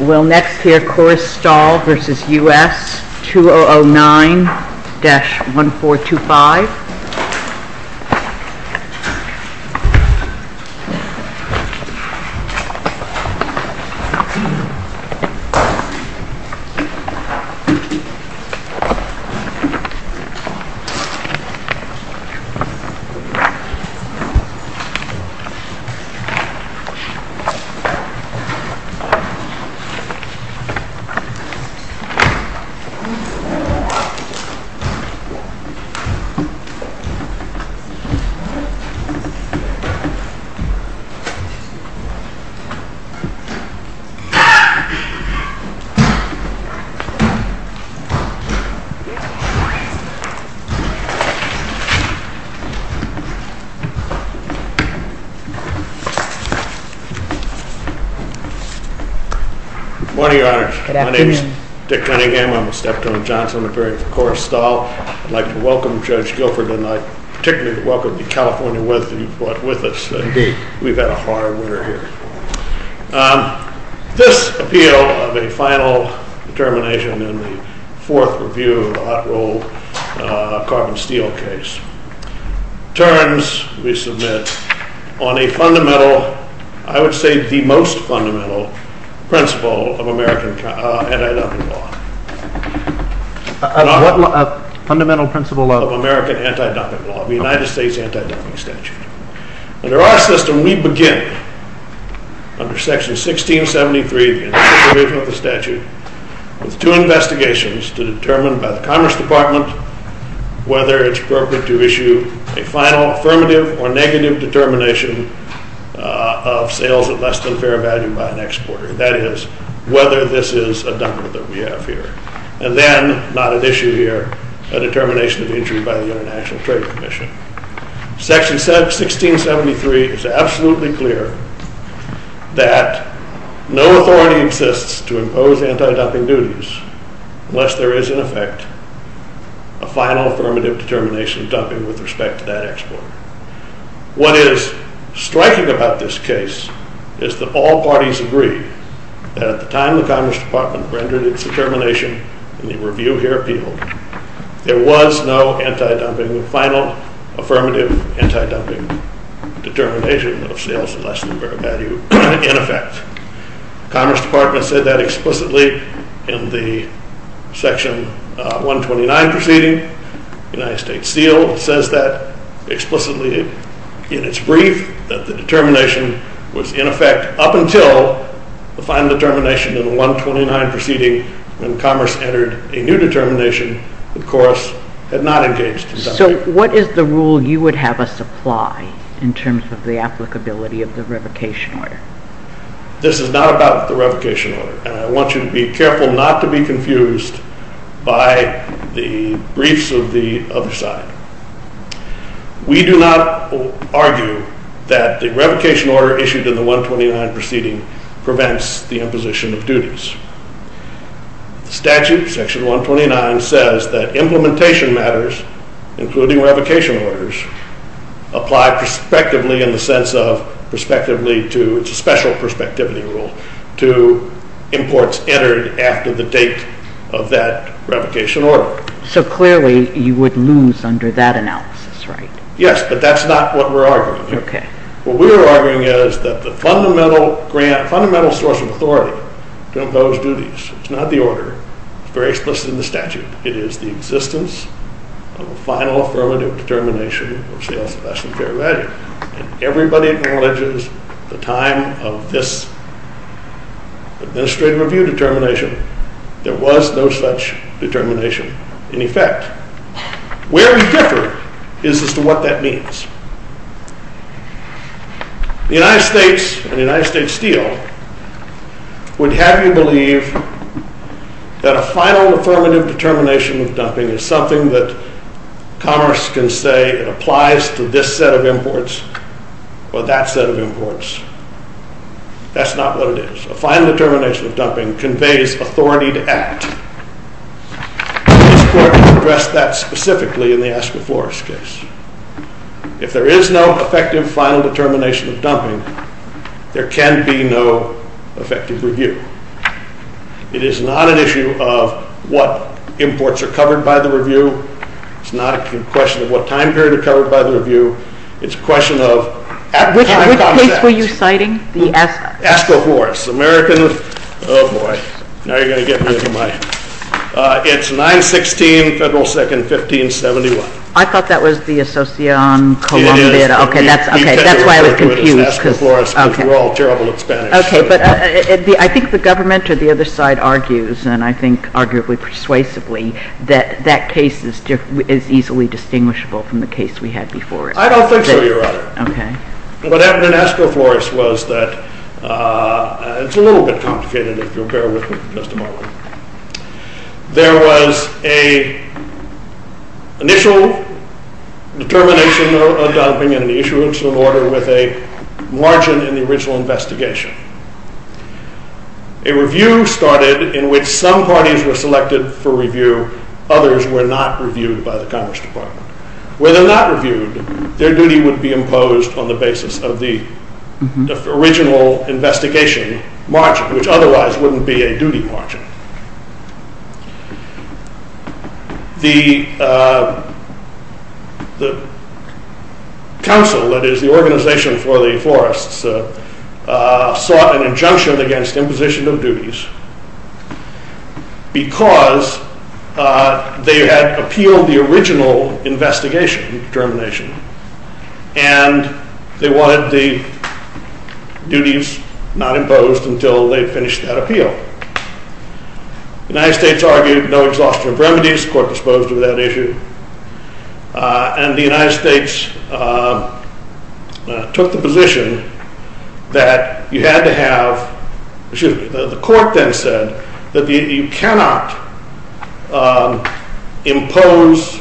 We'll next hear Corus Staal v. United States, 2009-1425. Corus Staal BV v. United States, 2009-1425. Good morning, Your Honor. My name is Dick Cunningham. I'm a step-town Johnson appearing for Corus Staal. I'd like to welcome Judge Guilford, and I'd particularly like to welcome the California with who brought with us. We've had a hard winter here. This appeal of a final determination in the fourth review of the hot roll carbon steel case turns, we submit, on a fundamental, I would say the most fundamental principle of American anti-dumping law. A fundamental principle of? Of American anti-dumping law, the United States anti-dumping statute. Under our system, we begin under section 1673 of the statute with two investigations to determine by the Commerce Department whether it's appropriate to issue a final affirmative or negative determination of sales at less than fair value by an exporter. That is, whether this is a dump that we have here. And then, not at issue here, a determination of injury by the International Trade Commission. Section 1673 is absolutely clear that no authority exists to impose anti-dumping duties unless there is, in effect, a final affirmative determination of dumping with respect to that exporter. What is striking about this case is that all parties agree that at the time the Commerce Department rendered its determination in the review here appealed, there was no anti-dumping, final affirmative anti-dumping determination of sales at less than fair value in effect. Commerce Department said that explicitly in the section 129 proceeding. United States Steel says that explicitly in its brief that the determination was in effect up until the final determination in the 129 proceeding when Commerce entered a new determination, of course, had not engaged in dumping. So what is the rule you would have us apply in terms of the applicability of the revocation order? This is not about the revocation order. And I want you to be careful not to be confused by the briefs of the other side. We do not argue that the revocation order issued in the 129 proceeding prevents the imposition of duties. The statute, section 129, says that implementation matters, including revocation orders, apply prospectively in the sense of, prospectively to, it's a special prospectivity rule, to imports entered after the date of that revocation order. So clearly you would lose under that analysis, right? Yes, but that's not what we're arguing. Okay. What we're arguing is that the fundamental grant, fundamental source of authority to impose duties, it's not the order, it's very explicit in the statute. It is the existence of a final affirmative determination of sales of less than fair value. And everybody acknowledges the time of this administrative review determination, there was no such determination in effect. Where we differ is as to what that means. The United States and the United States Steel would have you believe that a final affirmative determination of dumping is something that commerce can say it applies to this set of imports or that set of imports. That's not what it is. A final determination of dumping conveys authority to act. This Court has addressed that specifically in the Asco-Flores case. If there is no effective final determination of dumping, there can be no effective review. It is not an issue of what imports are covered by the review. It's not a question of what time period are covered by the review. It's a question of at-time concepts. Which place were you citing? The Asco? Asco-Flores. Oh, boy. Now you're going to get rid of my... It's 9-16, Federal 2nd, 1571. I thought that was the Asocion-Colombia. Okay, that's why I was confused. Asco-Flores, because we're all terrible at Spanish. Okay, but I think the government or the other side argues, and I think arguably persuasively, that that case is easily distinguishable from the case we had before it. I don't think so, Your Honor. Okay. What happened in Asco-Flores was that it's a little bit complicated, if you'll bear with me for just a moment. There was an initial determination of dumping and an issuance of an order with a margin in the original investigation. A review started in which some parties were selected for review. Others were not reviewed by the Congress Department. Were they not reviewed, their duty would be imposed on the basis of the original investigation margin, which otherwise wouldn't be a duty margin. The council, that is the organization for the Flores, sought an injunction against imposition of duties because they had appealed the original investigation determination, and they wanted the duties not imposed until they finished that appeal. The United States argued no exhaustion of remedies, the court disposed of that issue, and the United States took the position that you had to have, excuse me, the court then said that you cannot impose,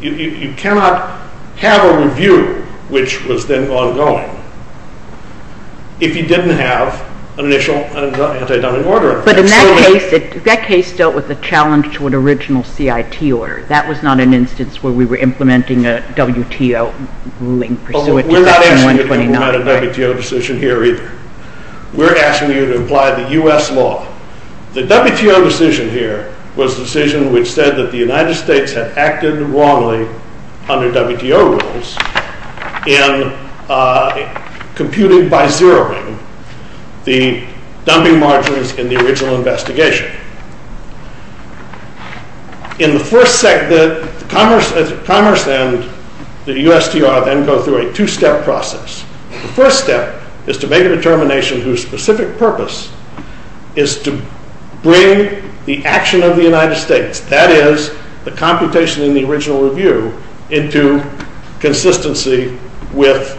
you cannot have a review, which was then ongoing, if you didn't have an initial anti-dumping order. But in that case, that case dealt with the challenge to an original CIT order. That was not an instance where we were implementing a WTO ruling pursuant to Section 129. We don't have a WTO decision here either. We're asking you to apply the U.S. law. The WTO decision here was a decision which said that the United States had acted wrongly under WTO rules in computing by zeroing the dumping margins in the original investigation. Commerce and the USTR then go through a two-step process. The first step is to make a determination whose specific purpose is to bring the action of the United States, that is, the computation in the original review, into consistency with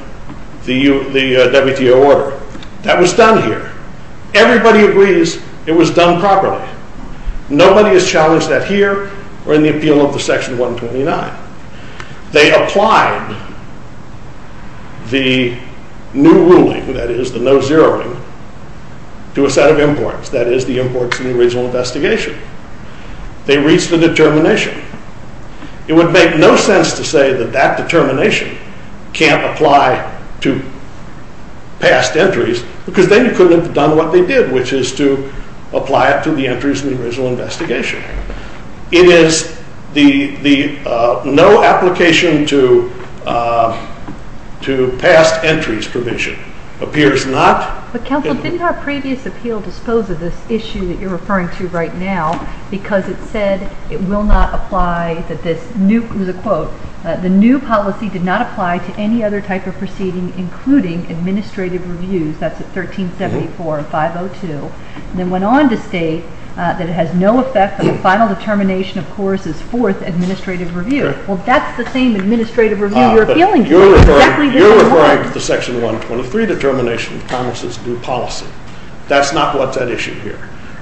the WTO order. That was done here. Everybody agrees it was done properly. Nobody is challenged that here or in the appeal of the Section 129. They applied the new ruling, that is, the no zeroing, to a set of imports, that is, the imports in the original investigation. They reached a determination. It would make no sense to say that that determination can't apply to past entries because then you couldn't have done what they did, which is to apply it to the entries in the original investigation. It is the no application to past entries provision. Appears not. But, counsel, didn't our previous appeal dispose of this issue that you're referring to right now because it said it will not apply that this new, it was a quote, the new policy did not apply to any other type of proceeding, including administrative reviews. That's at 1374 and 502. Then went on to state that it has no effect on the final determination, of course, is fourth administrative review. Well, that's the same administrative review we're appealing to. You're referring to the Section 123 determination of Congress's new policy. That's not what's at issue here.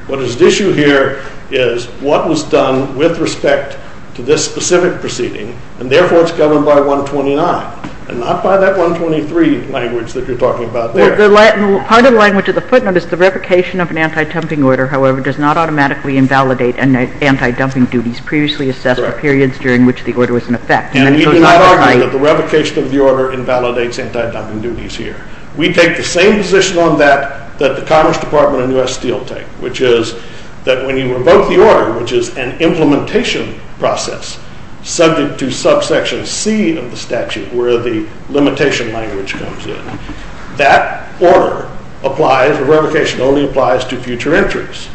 What is at issue here is what was done with respect to this specific proceeding, and therefore it's governed by 129 and not by that 123 language that you're talking about there. Well, part of the language of the footnote is the revocation of an anti-dumping order, however, does not automatically invalidate anti-dumping duties previously assessed for periods during which the order was in effect. And we do not argue that the revocation of the order invalidates anti-dumping duties here. We take the same position on that that the Congress Department and U.S. Steel take, which is that when you revoke the order, which is an implementation process subject to subsection C of the statute, where the limitation language comes in, that order applies, the revocation only applies to future entries.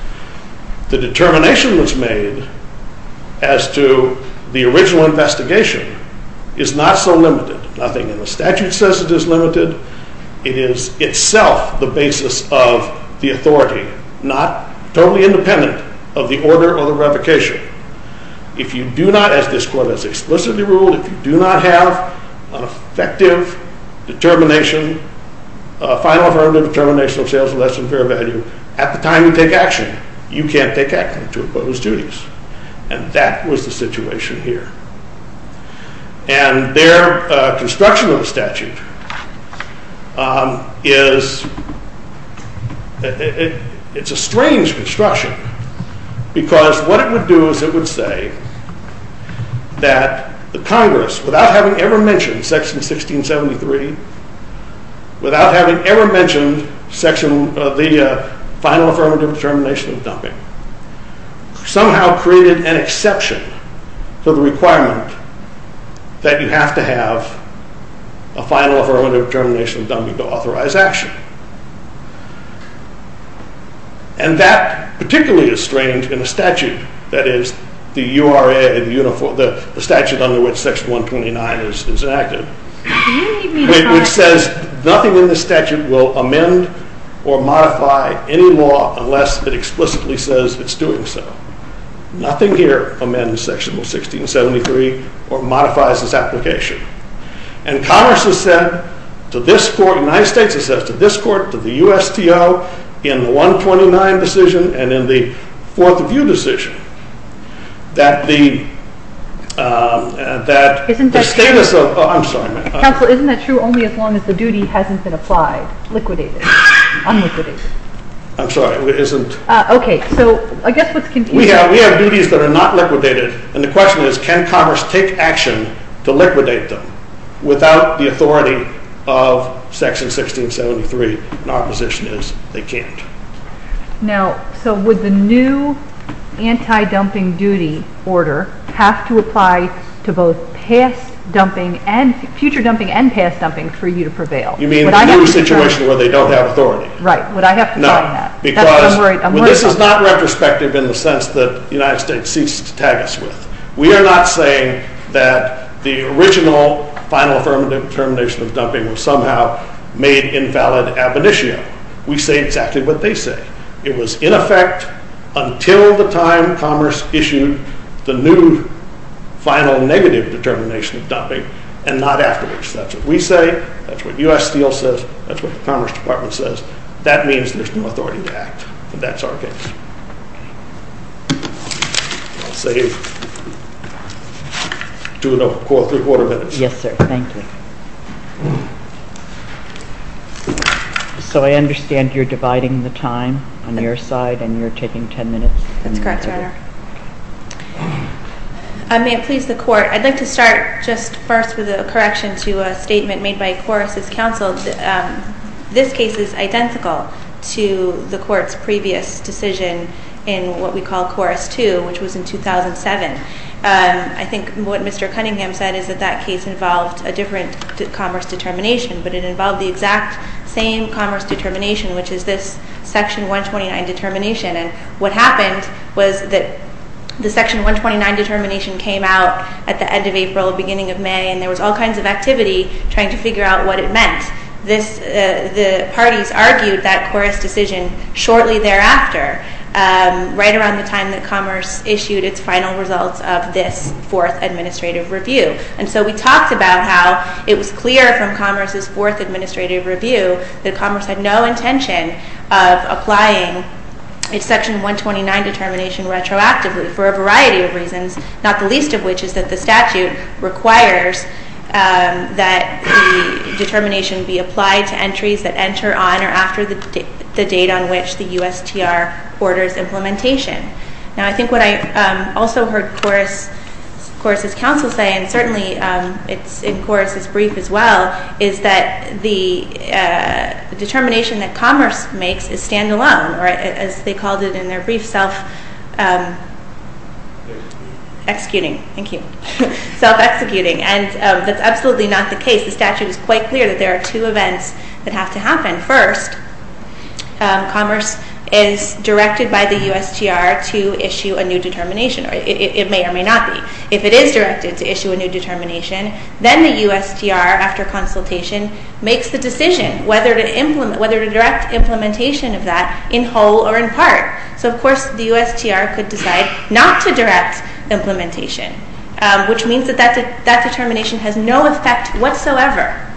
The determination that's made as to the original investigation is not so limited. Nothing in the statute says it is limited. It is itself the basis of the authority, not totally independent of the order or the revocation. If you do not, as this Court has explicitly ruled, if you do not have an effective determination, a final affirmative determination of sales of less than fair value at the time you take action, you can't take action to oppose duties, and that was the situation here. And their construction of the statute is, it's a strange construction, because what it would do is it would say that the Congress, without having ever mentioned Section 1673, without having ever mentioned the final affirmative determination of dumping, somehow created an exception to the requirement that you have to have a final affirmative determination of dumping to authorize action. And that particularly is strange in a statute that is the URA, the statute under which Section 129 is enacted, which says nothing in the statute will amend or modify any law unless it explicitly says it's doing so. Nothing here amends Section 1673 or modifies this application. And Congress has said to this Court, the United States has said to this Court, to the USTO, in the 129 decision and in the Fourth View decision, that the status of, I'm sorry. Counsel, isn't that true only as long as the duty hasn't been applied, liquidated, unliquidated? I'm sorry, it isn't. Okay, so I guess what's confusing. We have duties that are not liquidated, and the question is can Congress take action to liquidate them without the authority of Section 1673, and our position is they can't. Now, so would the new anti-dumping duty order have to apply to both past dumping and future dumping and past dumping for you to prevail? You mean the new situation where they don't have authority? Right, would I have to sign that? No, because this is not retrospective in the sense that the United States seeks to tag us with. We are not saying that the original final termination of dumping was somehow made invalid ab initio. We say exactly what they say. It was in effect until the time Commerce issued the new final negative determination of dumping and not afterwards. That's what we say, that's what USTO says, that's what the Commerce Department says. That means there's no authority to act, and that's our case. I'll save two and a quarter minutes. Yes, sir. Thank you. So I understand you're dividing the time on your side and you're taking 10 minutes. That's correct, Your Honor. May it please the Court, I'd like to start just first with a correction to a statement made by Corris' counsel. This case is identical to the Court's previous decision in what we call Corris 2, which was in 2007. I think what Mr. Cunningham said is that that case involved a different Commerce determination, but it involved the exact same Commerce determination, which is this Section 129 determination. And what happened was that the Section 129 determination came out at the end of April, beginning of May, and there was all kinds of activity trying to figure out what it meant. The parties argued that Corris' decision shortly thereafter, right around the time that Commerce issued its final results of this fourth administrative review. And so we talked about how it was clear from Commerce's fourth administrative review that Commerce had no intention of applying its Section 129 determination retroactively for a variety of reasons, not the least of which is that the statute requires that the determination be applied to entries that enter on or after the date on which the USTR orders implementation. Now I think what I also heard Corris' counsel say, and certainly it's in Corris' brief as well, is that the determination that Commerce makes is standalone, or as they called it in their brief, self-executing. Thank you. Self-executing. And that's absolutely not the case. The statute is quite clear that there are two events that have to happen. First, Commerce is directed by the USTR to issue a new determination, or it may or may not be. If it is directed to issue a new determination, then the USTR, after consultation, makes the decision whether to direct implementation of that in whole or in part. So, of course, the USTR could decide not to direct implementation, which means that that determination has no effect whatsoever.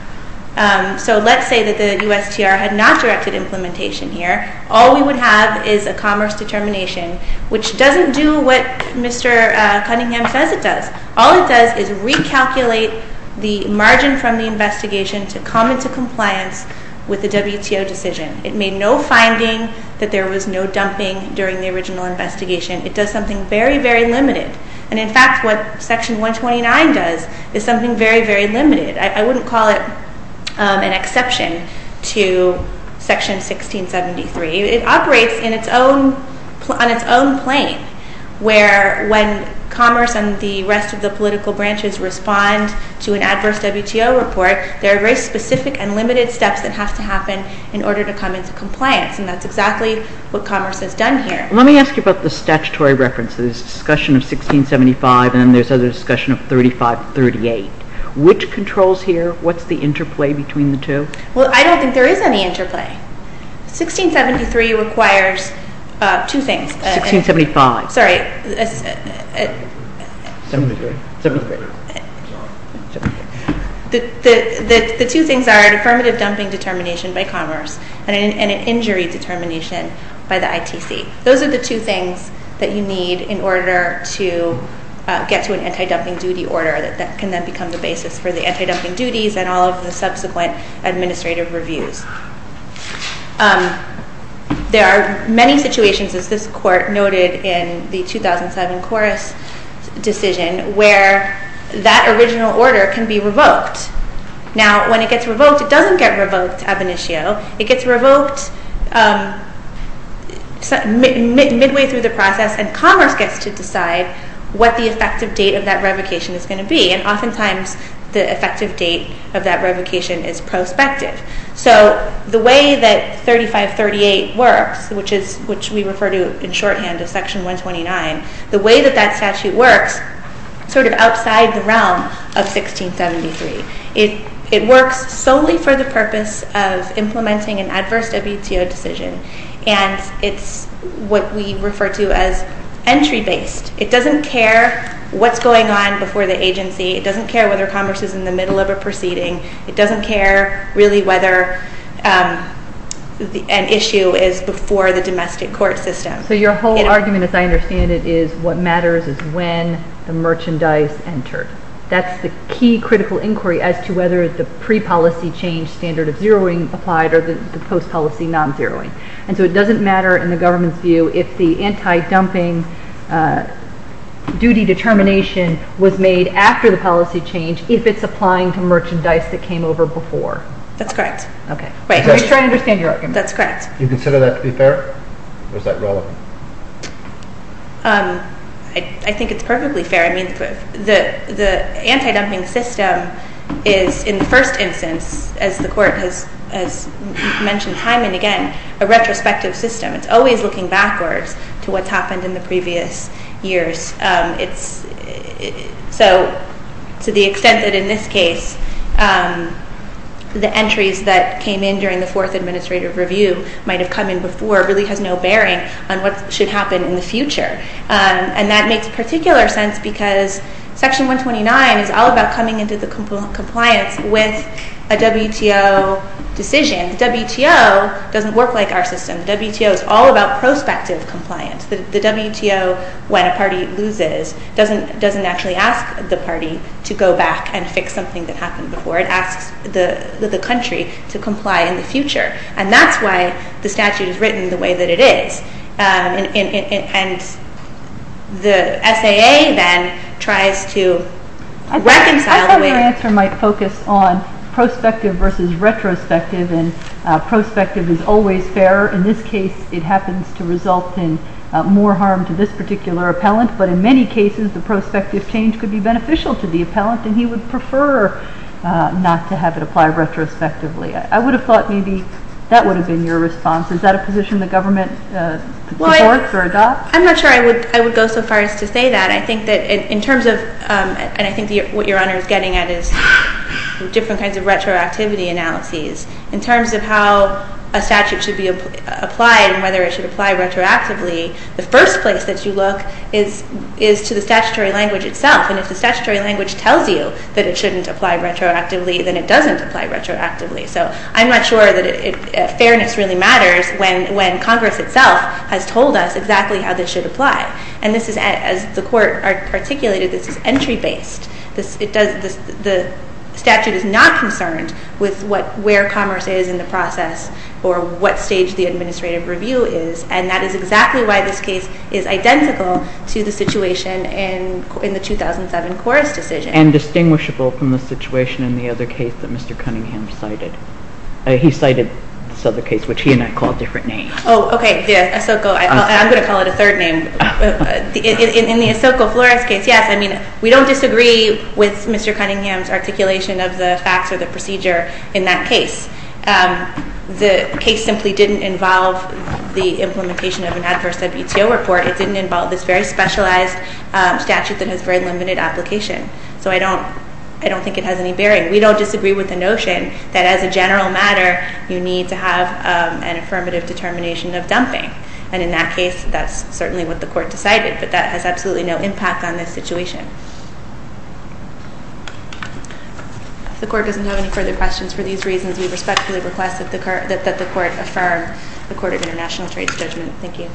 So let's say that the USTR had not directed implementation here. All we would have is a Commerce determination, which doesn't do what Mr. Cunningham says it does. All it does is recalculate the margin from the investigation to come into compliance with the WTO decision. It made no finding that there was no dumping during the original investigation. It does something very, very limited. And, in fact, what Section 129 does is something very, very limited. I wouldn't call it an exception to Section 1673. It operates on its own plane, where when Commerce and the rest of the political branches respond to an adverse WTO report, there are very specific and limited steps that have to happen in order to come into compliance, and that's exactly what Commerce has done here. Let me ask you about the statutory references. There's discussion of 1675, and then there's other discussion of 3538. Which controls here? What's the interplay between the two? Well, I don't think there is any interplay. 1673 requires two things. 1675. Sorry. The two things are an affirmative dumping determination by Commerce and an injury determination by the ITC. Those are the two things that you need in order to get to an anti-dumping duty order that can then become the basis for the anti-dumping duties and all of the subsequent administrative reviews. There are many situations, as this Court noted in the 2007 Corus decision, where that original order can be revoked. Now, when it gets revoked, it doesn't get revoked ab initio. It gets revoked midway through the process, and Commerce gets to decide what the effective date of that revocation is going to be. And oftentimes, the effective date of that revocation is prospective. So the way that 3538 works, which we refer to in shorthand as Section 129, the way that that statute works is sort of outside the realm of 1673. It works solely for the purpose of implementing an adverse WTO decision, and it's what we refer to as entry-based. It doesn't care what's going on before the agency. It doesn't care whether Commerce is in the middle of a proceeding. It doesn't care, really, whether an issue is before the domestic court system. So your whole argument, as I understand it, is what matters is when the merchandise entered. That's the key critical inquiry as to whether the pre-policy change standard of zeroing applied or the post-policy non-zeroing. And so it doesn't matter, in the government's view, if the anti-dumping duty determination was made after the policy change, if it's applying to merchandise that came over before. That's correct. Okay. Wait. I'm just trying to understand your argument. That's correct. Do you consider that to be fair, or is that relevant? I think it's perfectly fair. I mean, the anti-dumping system is, in the first instance, as the Court has mentioned time and again, a retrospective system. It's always looking backwards to what's happened in the previous years. So to the extent that, in this case, the entries that came in during the fourth administrative review might have come in before really has no bearing on what should happen in the future. And that makes particular sense because Section 129 is all about coming into the compliance with a WTO decision. The WTO doesn't work like our system. The WTO is all about prospective compliance. The WTO, when a party loses, doesn't actually ask the party to go back and fix something that happened before. It asks the country to comply in the future. And that's why the statute is written the way that it is. And the SAA, then, tries to reconcile the way— I thought your answer might focus on prospective versus retrospective, and prospective is always fairer. In this case, it happens to result in more harm to this particular appellant. But in many cases, the prospective change could be beneficial to the appellant, and he would prefer not to have it apply retrospectively. I would have thought maybe that would have been your response. Is that a position the government supports or adopts? I'm not sure I would go so far as to say that. I think that in terms of—and I think what Your Honor is getting at is different kinds of retroactivity analyses. In terms of how a statute should be applied and whether it should apply retroactively, the first place that you look is to the statutory language itself. And if the statutory language tells you that it shouldn't apply retroactively, then it doesn't apply retroactively. So I'm not sure that fairness really matters when Congress itself has told us exactly how this should apply. And this is, as the Court articulated, this is entry-based. The statute is not concerned with where commerce is in the process or what stage the administrative review is, and that is exactly why this case is identical to the situation in the 2007 Coras decision. And distinguishable from the situation in the other case that Mr. Cunningham cited. He cited this other case, which he and I call a different name. Oh, okay, the Ahsoka—I'm going to call it a third name. In the Ahsoka Flores case, yes, I mean, we don't disagree with Mr. Cunningham's articulation of the facts or the procedure in that case. The case simply didn't involve the implementation of an adverse WTO report. It didn't involve this very specialized statute that has very limited application. So I don't think it has any bearing. We don't disagree with the notion that, as a general matter, you need to have an affirmative determination of dumping. And in that case, that's certainly what the Court decided, but that has absolutely no impact on this situation. If the Court doesn't have any further questions for these reasons, we respectfully request that the Court affirm the Court of International Trade's judgment. Thank you.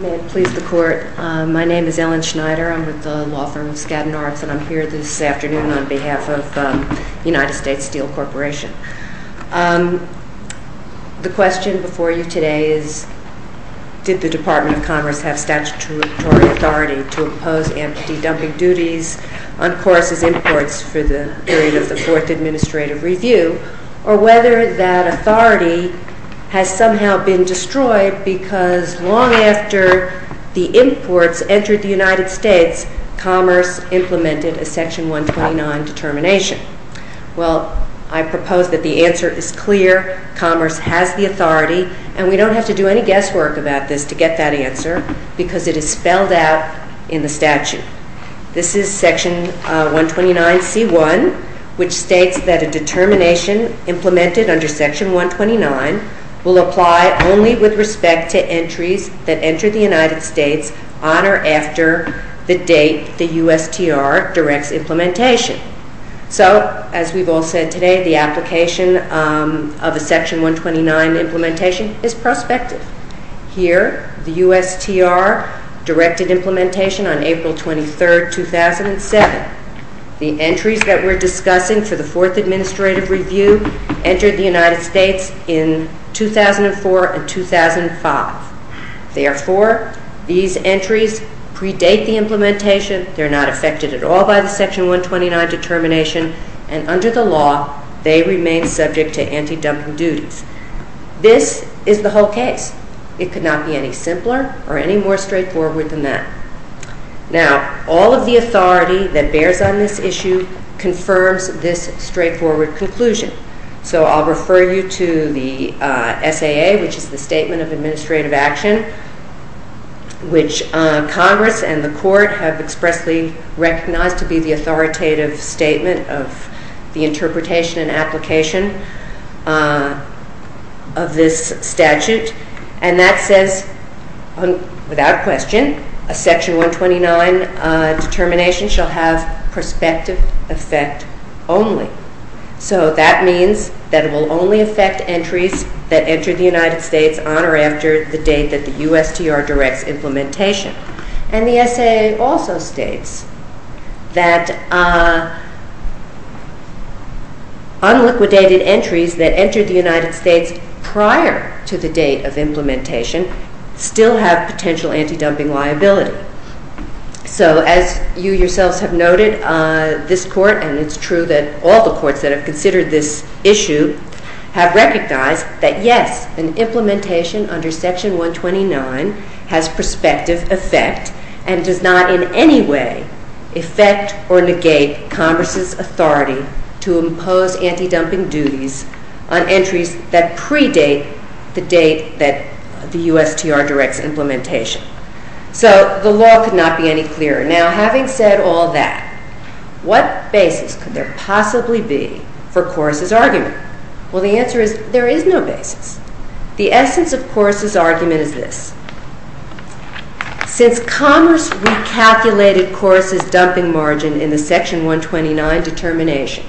May it please the Court. My name is Ellen Schneider. I'm with the law firm of Skadden Arts, and I'm here this afternoon on behalf of United States Steel Corporation. The question before you today is, did the Department of Commerce have statutory authority to impose empty dumping duties on courses imports for the period of the Fourth Administrative Review, or whether that authority has somehow been destroyed because long after the imports entered the United States, Commerce implemented a Section 129 determination. Well, I propose that the answer is clear. Commerce has the authority, and we don't have to do any guesswork about this to get that answer, because it is spelled out in the statute. This is Section 129C1, which states that a determination implemented under Section 129 will apply only with respect to entries that enter the United States on or after the date the USTR directs implementation. So, as we've all said today, the application of a Section 129 implementation is prospective. Here, the USTR directed implementation on April 23, 2007. The entries that we're discussing for the Fourth Administrative Review entered the United States in 2004 and 2005. Therefore, these entries predate the implementation. They're not affected at all by the Section 129 determination, and under the law, they remain subject to empty dumping duties. This is the whole case. It could not be any simpler or any more straightforward than that. Now, all of the authority that bears on this issue confirms this straightforward conclusion. So I'll refer you to the SAA, which is the Statement of Administrative Action, which Congress and the Court have expressly recognized to be the authoritative statement of the interpretation and application. of this statute, and that says, without question, a Section 129 determination shall have prospective effect only. So that means that it will only affect entries that enter the United States on or after the date that the USTR directs implementation. And the SAA also states that unliquidated entries that enter the United States prior to the date of implementation still have potential empty dumping liability. So as you yourselves have noted, this Court, and it's true that all the courts that have considered this issue, have recognized that, yes, an implementation under Section 129 has prospective effect and does not in any way affect or negate Congress's authority to impose empty dumping duties on entries that predate the date that the USTR directs implementation. So the law could not be any clearer. Now, having said all that, what basis could there possibly be for Coase's argument? Well, the answer is there is no basis. The essence of Coase's argument is this. Since Congress recalculated Coase's dumping margin in the Section 129 determination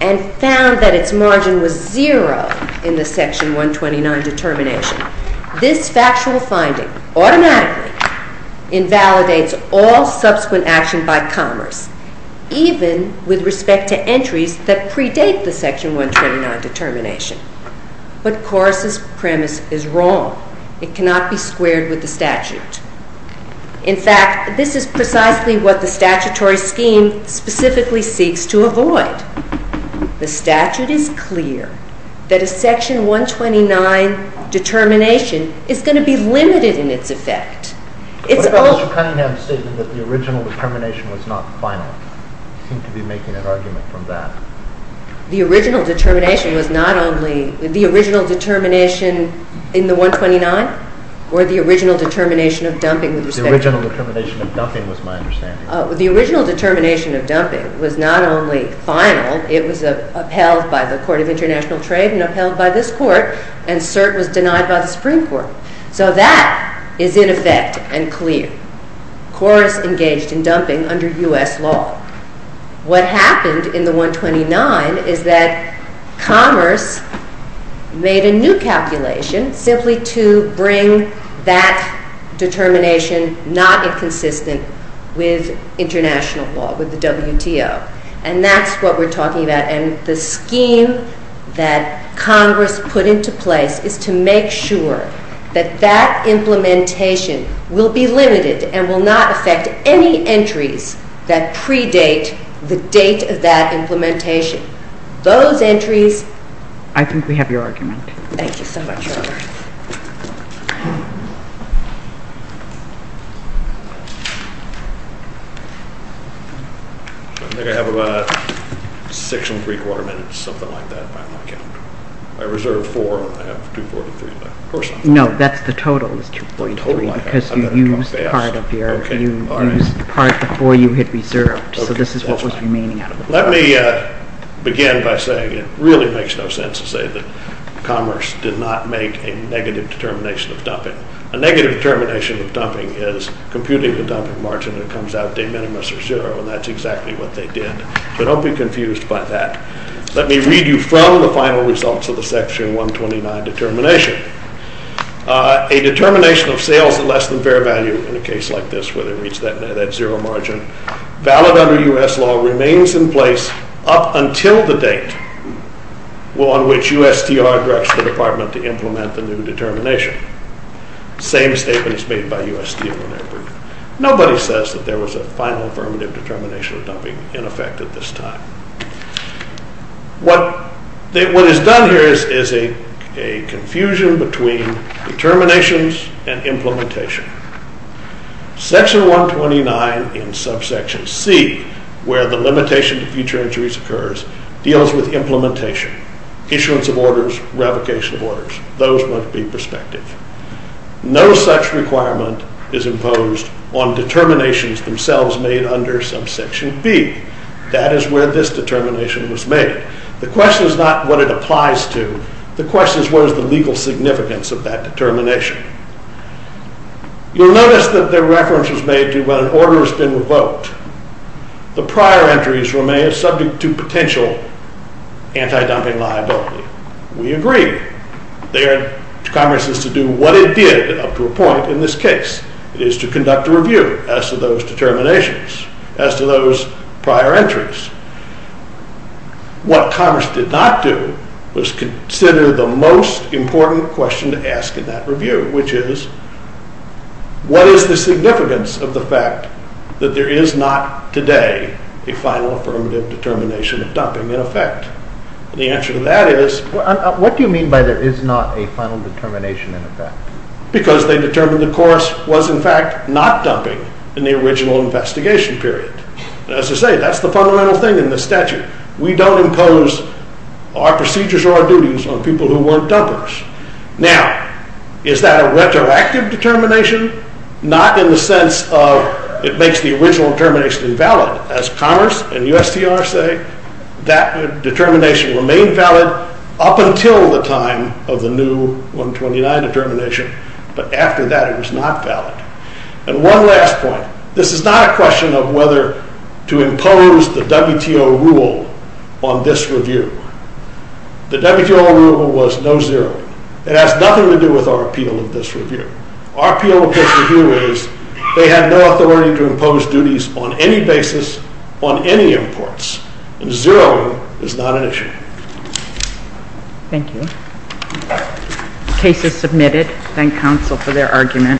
and found that its margin was zero in the Section 129 determination, this factual finding automatically invalidates all subsequent action by Congress, even with respect to entries that predate the Section 129 determination. But Coase's premise is wrong. It cannot be squared with the statute. In fact, this is precisely what the statutory scheme specifically seeks to avoid. The statute is clear that a Section 129 determination is going to be limited in its effect. But Appellate Judge Cunningham stated that the original determination was not final. You seem to be making an argument from that. The original determination was not only – the original determination in the 129? Or the original determination of dumping with respect to – The original determination of dumping was my understanding. The original determination of dumping was not only final. It was upheld by the Court of International Trade and upheld by this Court, and cert was denied by the Supreme Court. So that is in effect and clear. Coase engaged in dumping under U.S. law. What happened in the 129 is that Commerce made a new calculation simply to bring that determination not inconsistent with international law, with the WTO. And that's what we're talking about. And the scheme that Congress put into place is to make sure that that implementation will be limited and will not affect any entries that predate the date of that implementation. Those entries – I think we have your argument. Thank you so much, Robert. I think I have about six and three-quarter minutes, something like that, by my count. I reserved four. I have 243 left. No, that's the total is 243 because you used part of your – you used part of the four you had reserved. So this is what was remaining. Let me begin by saying it really makes no sense to say that Commerce did not make a negative determination of dumping. A negative determination of dumping is computing the dumping margin that comes out de minimis or zero, and that's exactly what they did. So don't be confused by that. Let me read you from the final results of the Section 129 determination. A determination of sales at less than fair value in a case like this where they reach that zero margin valid under U.S. law remains in place up until the date on which USTR directs the Department to implement the new determination. Same statement is made by USTR. Nobody says that there was a final affirmative determination of dumping in effect at this time. What is done here is a confusion between determinations and implementation. Section 129 in subsection C, where the limitation to future injuries occurs, deals with implementation, issuance of orders, revocation of orders. Those must be prospective. No such requirement is imposed on determinations themselves made under subsection B. That is where this determination was made. The question is not what it applies to. The question is what is the legal significance of that determination. You'll notice that the reference was made to when an order has been revoked. The prior entries remain subject to potential anti-dumping liability. We agree. Congress is to do what it did up to a point in this case. It is to conduct a review as to those determinations, as to those prior entries. What Congress did not do was consider the most important question to ask in that review, which is what is the significance of the fact that there is not today a final affirmative determination of dumping in effect? The answer to that is... What do you mean by there is not a final determination in effect? Because they determined the course was in fact not dumping in the original investigation period. As I say, that's the fundamental thing in the statute. We don't impose our procedures or our duties on people who weren't dumpers. Now, is that a retroactive determination? Not in the sense of it makes the original determination invalid. As Commerce and USTR say, that determination remained valid up until the time of the new 129 determination. But after that, it was not valid. And one last point. This is not a question of whether to impose the WTO rule on this review. The WTO rule was no zeroing. It has nothing to do with our appeal of this review. Our appeal of this review is they have no authority to impose duties on any basis on any imports. And zeroing is not an issue. Thank you. Case is submitted. Thank counsel for their argument.